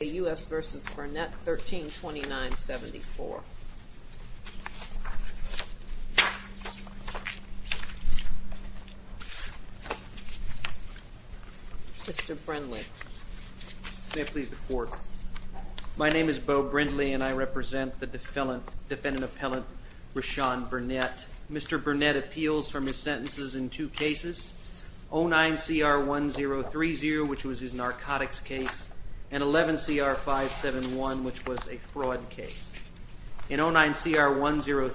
A U.S. v. Burnett, 1329-74. Mr. Brindley. May I please report? My name is Beau Brindley, and I represent the defendant-appellant, Rahshone Burnett. Mr. Burnett appeals from his sentences in two cases, 09CR1030, which was his narcotics case, and 11CR571, which was a fraud case. In 09CR1030,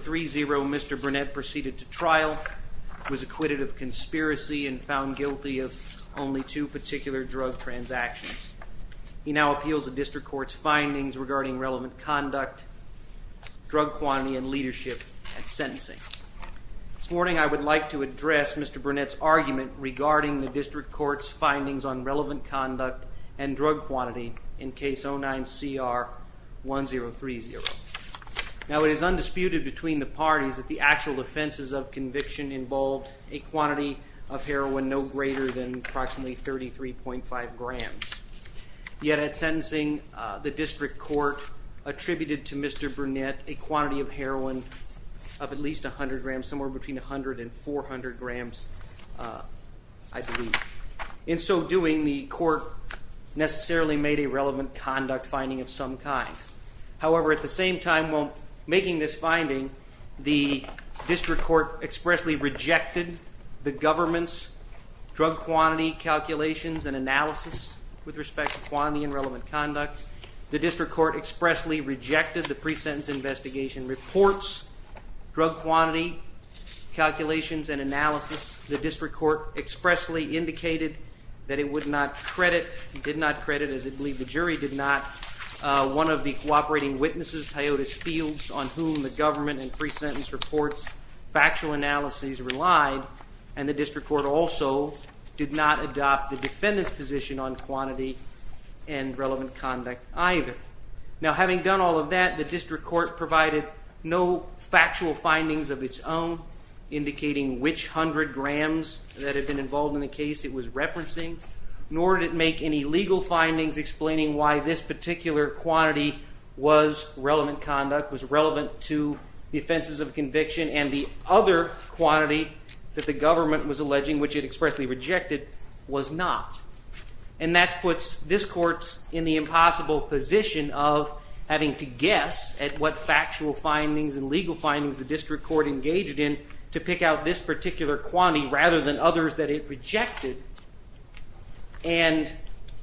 Mr. Burnett proceeded to trial, was acquitted of conspiracy, and found guilty of only two particular drug transactions. He now appeals the district court's findings regarding relevant conduct, drug quantity, and leadership at sentencing. This morning, I would like to address Mr. Burnett's argument regarding the district court's findings on relevant conduct and drug quantity in case 09CR1030. Now, it is undisputed between the parties that the actual offenses of conviction involved a quantity of heroin no greater than approximately 33.5 grams. Yet at sentencing, the district court attributed to Mr. Burnett a quantity of heroin of at least 100 grams, sometimes somewhere between 100 and 400 grams, I believe. In so doing, the court necessarily made a relevant conduct finding of some kind. However, at the same time while making this finding, the district court expressly rejected the government's drug quantity calculations and analysis with respect to quantity and relevant conduct. The district court expressly rejected the pre-sentence investigation reports, drug quantity calculations and analysis. The district court expressly indicated that it would not credit and did not credit, as I believe the jury did not, one of the cooperating witnesses, Teodos Fields, on whom the government and pre-sentence reports factual analyses relied. And the district court also did not adopt the defendant's position on quantity and relevant conduct either. Now having done all of that, the district court provided no factual findings of its own indicating which 100 grams that had been involved in the case it was referencing, nor did it make any legal findings explaining why this particular quantity was relevant conduct, was relevant to the offenses of conviction, and the other quantity that the government was alleging, which it expressly rejected, was not. And that puts this court in the impossible position of having to guess at what factual findings and legal findings the district court engaged in to pick out this particular quantity rather than others that it rejected and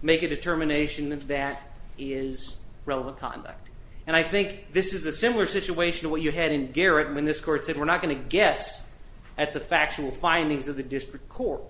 make a determination that that is relevant conduct. And I think this is a similar situation to what you had in Garrett when this court said we're not going to guess at the factual findings of the district court.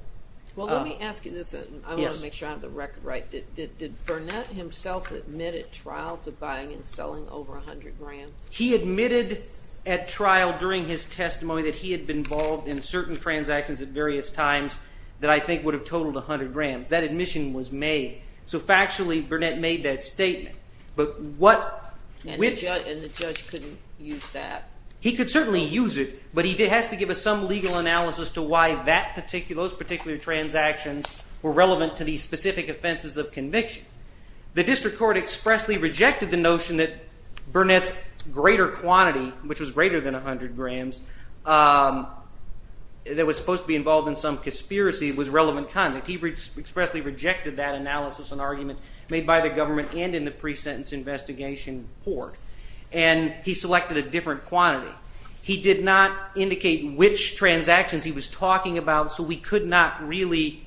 Well, let me ask you this, and I want to make sure I have the record right. Did Burnett himself admit at trial to buying and selling over 100 grams? He admitted at trial during his testimony that he had been involved in certain transactions at various times that I think would have totaled 100 grams. That admission was made. So factually, Burnett made that statement. And the judge couldn't use that? He could certainly use it, but he has to give us some legal analysis as to why those particular transactions were relevant to these specific offenses of conviction. The district court expressly rejected the notion that Burnett's greater quantity, which was greater than 100 grams, that was supposed to be involved in some conspiracy was relevant conduct. He expressly rejected that analysis and argument made by the government and in the pre-sentence investigation court. And he selected a different quantity. He did not indicate which transactions he was talking about, so we could not really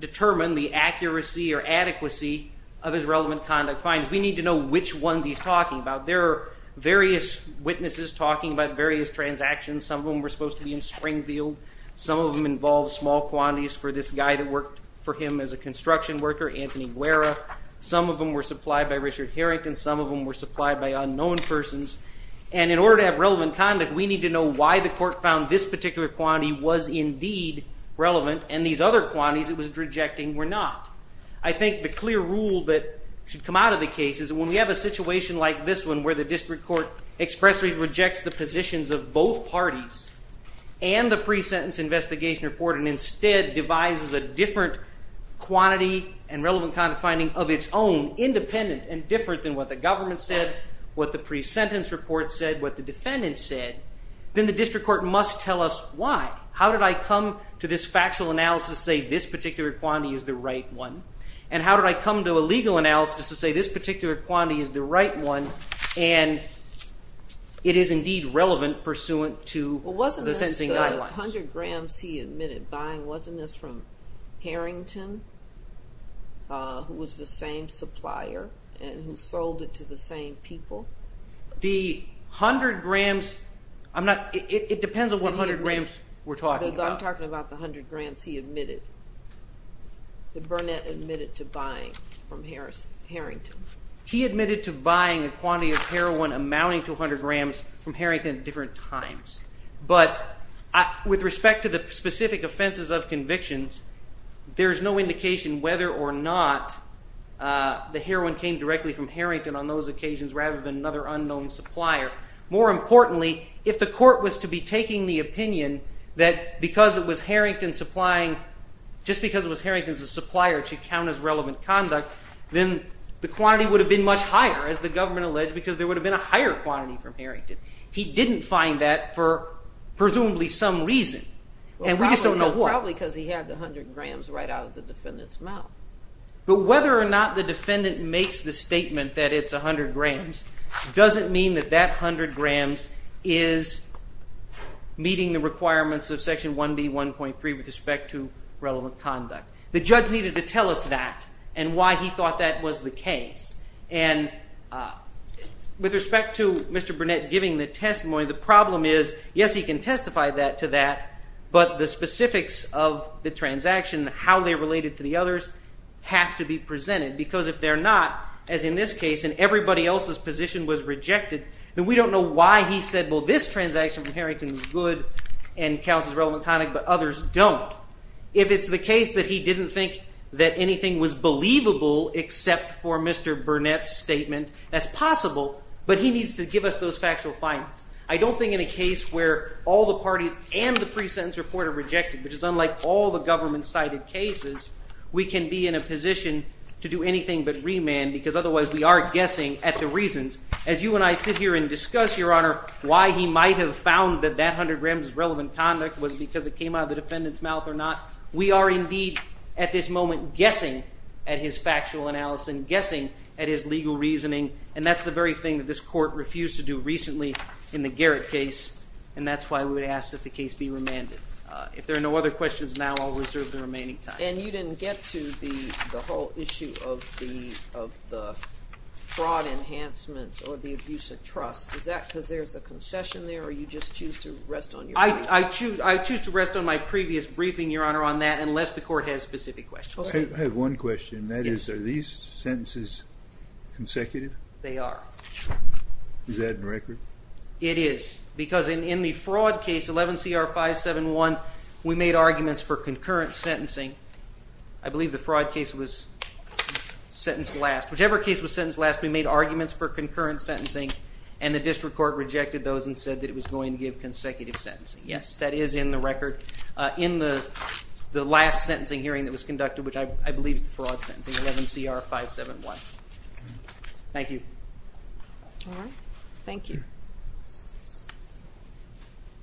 determine the accuracy or adequacy of his relevant conduct findings. We need to know which ones he's talking about. There are various witnesses talking about various transactions. Some of them were supposed to be in Springfield. Some of them involved small quantities for this guy that worked for him as a construction worker, Anthony Guerra. Some of them were supplied by Richard Harrington. Some of them were supplied by unknown persons. And in order to have relevant conduct, we need to know why the court found this particular quantity was indeed relevant and these other quantities it was rejecting were not. I think the clear rule that should come out of the case is when we have a situation like this one where the district court expressly rejects the positions of both parties and the pre-sentence investigation report and instead devises a different quantity and relevant conduct finding of its own, independent and different than what the government said, what the pre-sentence report said, what the defendant said, then the district court must tell us why. How did I come to this factual analysis to say this particular quantity is the right one? And how did I come to a legal analysis to say this particular quantity is the right one and it is indeed relevant pursuant to the sentencing guidelines? Well, wasn't this the 100 grams he admitted buying? Wasn't this from Harrington who was the same supplier and who sold it to the same people? The 100 grams, it depends on what 100 grams we're talking about. I'm talking about the 100 grams he admitted, that Burnett admitted to buying from Harrington. He admitted to buying a quantity of heroin amounting to 100 grams from Harrington at different times. But with respect to the specific offenses of convictions, there's no indication whether or not the heroin came directly from Harrington on those occasions rather than another unknown supplier. More importantly, if the court was to be taking the opinion that because it was Harrington supplying, just because it was Harrington's supplier, it should count as relevant conduct, then the quantity would have been much higher, as the government alleged, because there would have been a higher quantity from Harrington. He didn't find that for presumably some reason, and we just don't know what. Well, probably because he had the 100 grams right out of the defendant's mouth. But whether or not the defendant makes the statement that it's 100 grams doesn't mean that that 100 grams is meeting the requirements of Section 1B1.3 with respect to relevant conduct. The judge needed to tell us that and why he thought that was the case. And with respect to Mr. Burnett giving the testimony, the problem is, yes, he can testify to that, but the specifics of the transaction, how they're related to the others, have to be presented. Because if they're not, as in this case, and everybody else's position was rejected, then we don't know why he said, well, this transaction from Harrington is good and counts as relevant conduct, but others don't. If it's the case that he didn't think that anything was believable except for Mr. Burnett's statement, that's possible, but he needs to give us those factual findings. I don't think in a case where all the parties and the pre-sentence report are rejected, which is unlike all the government-cited cases, we can be in a position to do anything but remand because otherwise we are guessing at the reasons. As you and I sit here and discuss, Your Honor, why he might have found that that 100 grams is relevant conduct was because it came out of the defendant's mouth or not. We are indeed, at this moment, guessing at his factual analysis and guessing at his legal reasoning, and that's the very thing that this Court refused to do recently in the Garrett case, and that's why we would ask that the case be remanded. If there are no other questions now, I'll reserve the remaining time. And you didn't get to the whole issue of the fraud enhancement or the abuse of trust. Is that because there's a concession there, or you just choose to rest on your laurels? I choose to rest on my previous briefing, Your Honor, on that, unless the Court has specific questions. I have one question, and that is, are these sentences consecutive? They are. Is that in record? It is, because in the fraud case, 11 CR 571, we made arguments for concurrent sentencing. I believe the fraud case was sentenced last. Whichever case was sentenced last, we made arguments for concurrent sentencing, and the district court rejected those and said that it was going to give consecutive sentencing. Yes, that is in the record. In the last sentencing hearing that was conducted, which I believe is the fraud sentencing, 11 CR 571. Thank you. All right. Thank you.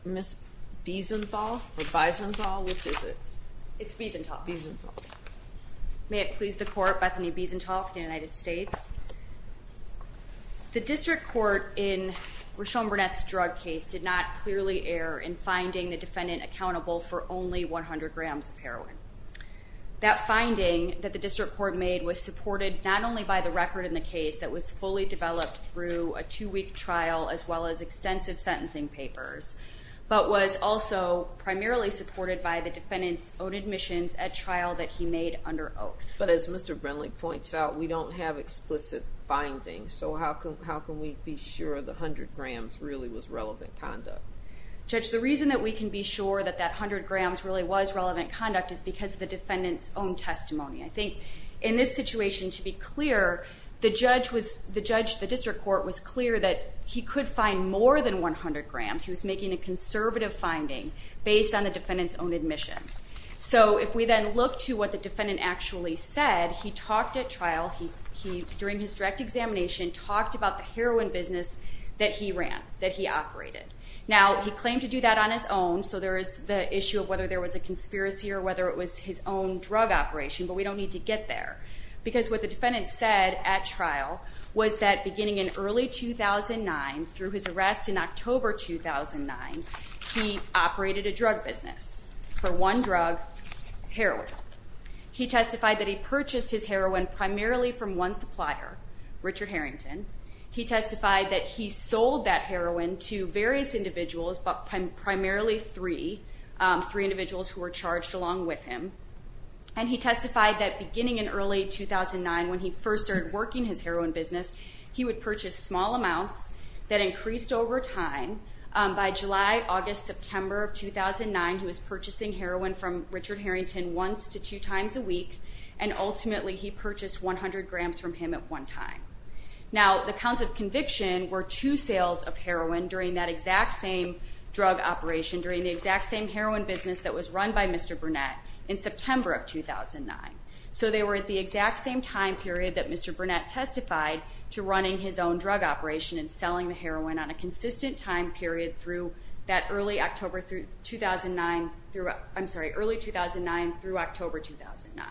Ms. Biesenthal, or Biesenthal, which is it? It's Biesenthal. Biesenthal. May it please the Court, Bethany Biesenthal, for the United States. The district court in Rochelle Burnett's drug case did not clearly err in finding the defendant accountable for only 100 grams of heroin. That finding that the district court made was supported not only by the record in the case that was fully developed through a two-week trial, as well as extensive sentencing papers, but was also primarily supported by the defendant's own admissions at trial that he made under oath. But as Mr. Brindley points out, we don't have explicit findings, so how can we be sure the 100 grams really was relevant conduct? Judge, the reason that we can be sure that that 100 grams really was relevant conduct is because of the defendant's own testimony. I think in this situation, to be clear, the judge, the district court, was clear that he could find more than 100 grams. He was making a conservative finding based on the defendant's own admissions. So if we then look to what the defendant actually said, he talked at trial, during his direct examination, talked about the heroin business that he ran, that he operated. Now, he claimed to do that on his own, so there is the issue of whether there was a conspiracy or whether it was his own drug operation, but we don't need to get there. Because what the defendant said at trial was that beginning in early 2009, through his arrest in October 2009, he operated a drug business. For one drug, heroin. He testified that he purchased his heroin primarily from one supplier, Richard Harrington. He testified that he sold that heroin to various individuals, but primarily three, three individuals who were charged along with him. And he testified that beginning in early 2009, when he first started working his heroin business, he would purchase small amounts that increased over time. By July, August, September of 2009, he was purchasing heroin from Richard Harrington once to two times a week, and ultimately he purchased 100 grams from him at one time. Now, the counts of conviction were two sales of heroin during that exact same drug operation, during the exact same heroin business that was run by Mr. Burnett in September of 2009. So they were at the exact same time period that Mr. Burnett testified to running his own drug operation and selling the heroin on a consistent time period through that early 2009 through October 2009.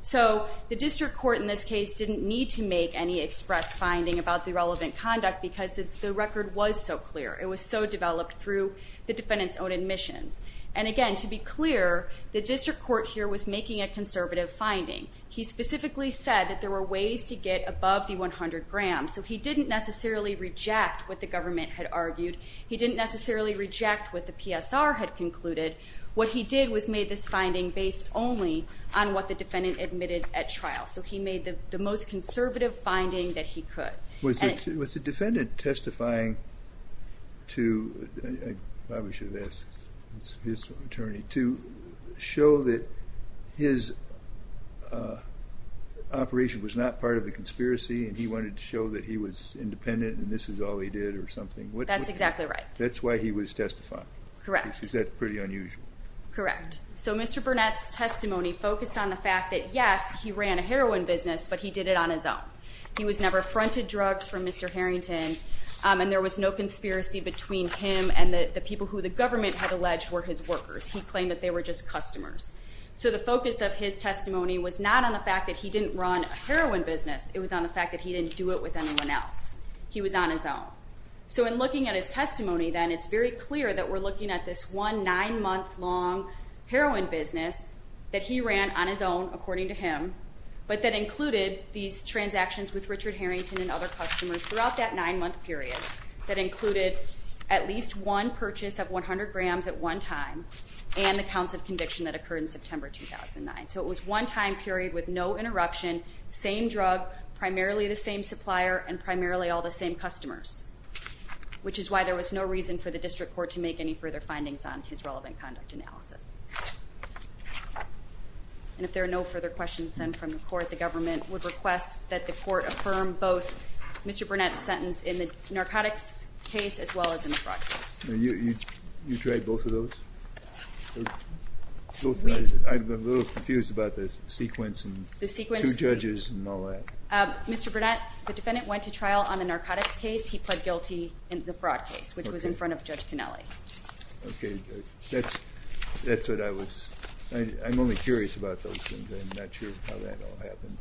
So the district court in this case didn't need to make any express finding about the relevant conduct because the record was so clear. It was so developed through the defendant's own admissions. And again, to be clear, the district court here was making a conservative finding. He specifically said that there were ways to get above the 100 grams, so he didn't necessarily reject what the government had argued. He didn't necessarily reject what the PSR had concluded. What he did was made this finding based only on what the defendant admitted at trial. So he made the most conservative finding that he could. Was the defendant testifying to show that his operation was not part of the conspiracy and he wanted to show that he was independent and this is all he did or something? That's exactly right. That's why he was testifying? Correct. Because that's pretty unusual. Correct. So Mr. Burnett's testimony focused on the fact that, yes, he ran a heroin business, but he did it on his own. He was never fronted drugs from Mr. Harrington, and there was no conspiracy between him and the people who the government had alleged were his workers. He claimed that they were just customers. So the focus of his testimony was not on the fact that he didn't run a heroin business. It was on the fact that he didn't do it with anyone else. He was on his own. So in looking at his testimony, then, it's very clear that we're looking at this one nine-month long heroin business that he ran on his own, according to him, but that included these transactions with Richard Harrington and other customers throughout that nine-month period that included at least one purchase of 100 grams at one time and the counts of conviction that occurred in September 2009. So it was one time period with no interruption, same drug, primarily the same supplier, and primarily all the same customers, which is why there was no reason for the district court to make any further findings on his relevant conduct analysis. And if there are no further questions, then, from the court, the government would request that the court affirm both Mr. Burnett's sentence in the narcotics case as well as in the fraud case. You tried both of those? I'm a little confused about the sequence and two judges and all that. Mr. Burnett, the defendant went to trial on the narcotics case. He pled guilty in the fraud case, which was in front of Judge Canelli. Okay. That's what I was – I'm only curious about those things. I'm not sure how that all happened.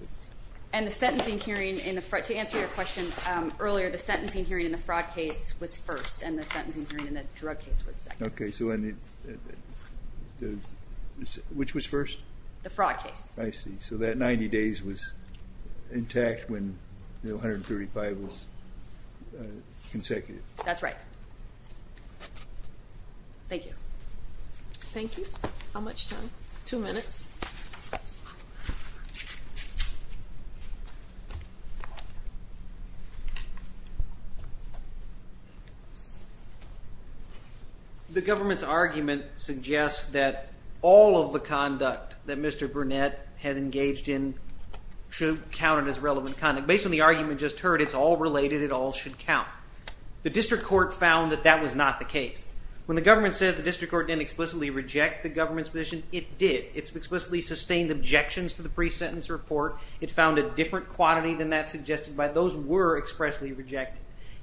And the sentencing hearing in the – to answer your question earlier, the sentencing hearing in the fraud case was first, and the sentencing hearing in the drug case was second. Okay. Which was first? The fraud case. I see. So that 90 days was intact when the 135 was consecutive. That's right. Thank you. Thank you. How much time? Two minutes. Two minutes. The government's argument suggests that all of the conduct that Mr. Burnett has engaged in should count as relevant conduct. Based on the argument just heard, it's all related. It all should count. The district court found that that was not the case. When the government says the district court didn't explicitly reject the government's position, it did. It explicitly sustained objections to the pre-sentence report. It found a different quantity than that suggested, but those were expressly rejected,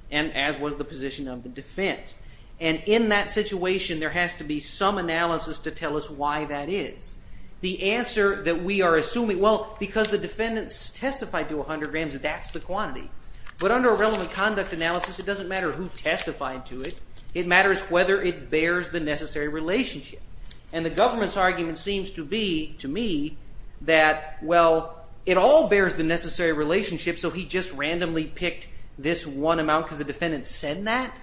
and as was the position of the defense. And in that situation, there has to be some analysis to tell us why that is. The answer that we are assuming – well, because the defendants testified to 100 grams, that's the quantity. But under a relevant conduct analysis, it doesn't matter who testified to it. It matters whether it bears the necessary relationship. And the government's argument seems to be, to me, that, well, it all bears the necessary relationship, so he just randomly picked this one amount because the defendants said that.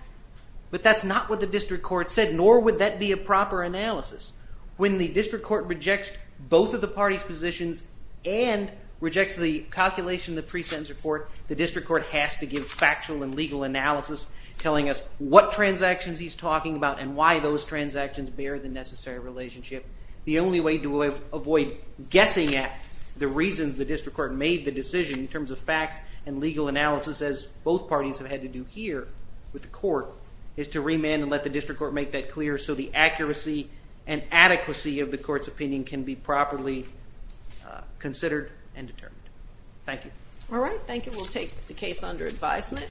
But that's not what the district court said, nor would that be a proper analysis. When the district court rejects both of the parties' positions and rejects the calculation of the pre-sentence report, the district court has to give factual and legal analysis telling us what transactions he's talking about and why those transactions bear the necessary relationship. The only way to avoid guessing at the reasons the district court made the decision in terms of facts and legal analysis, as both parties have had to do here with the court, is to remand and let the district court make that clear so the accuracy and adequacy of the court's opinion can be properly considered and determined. Thank you. All right, thank you. We'll take the case under advisement.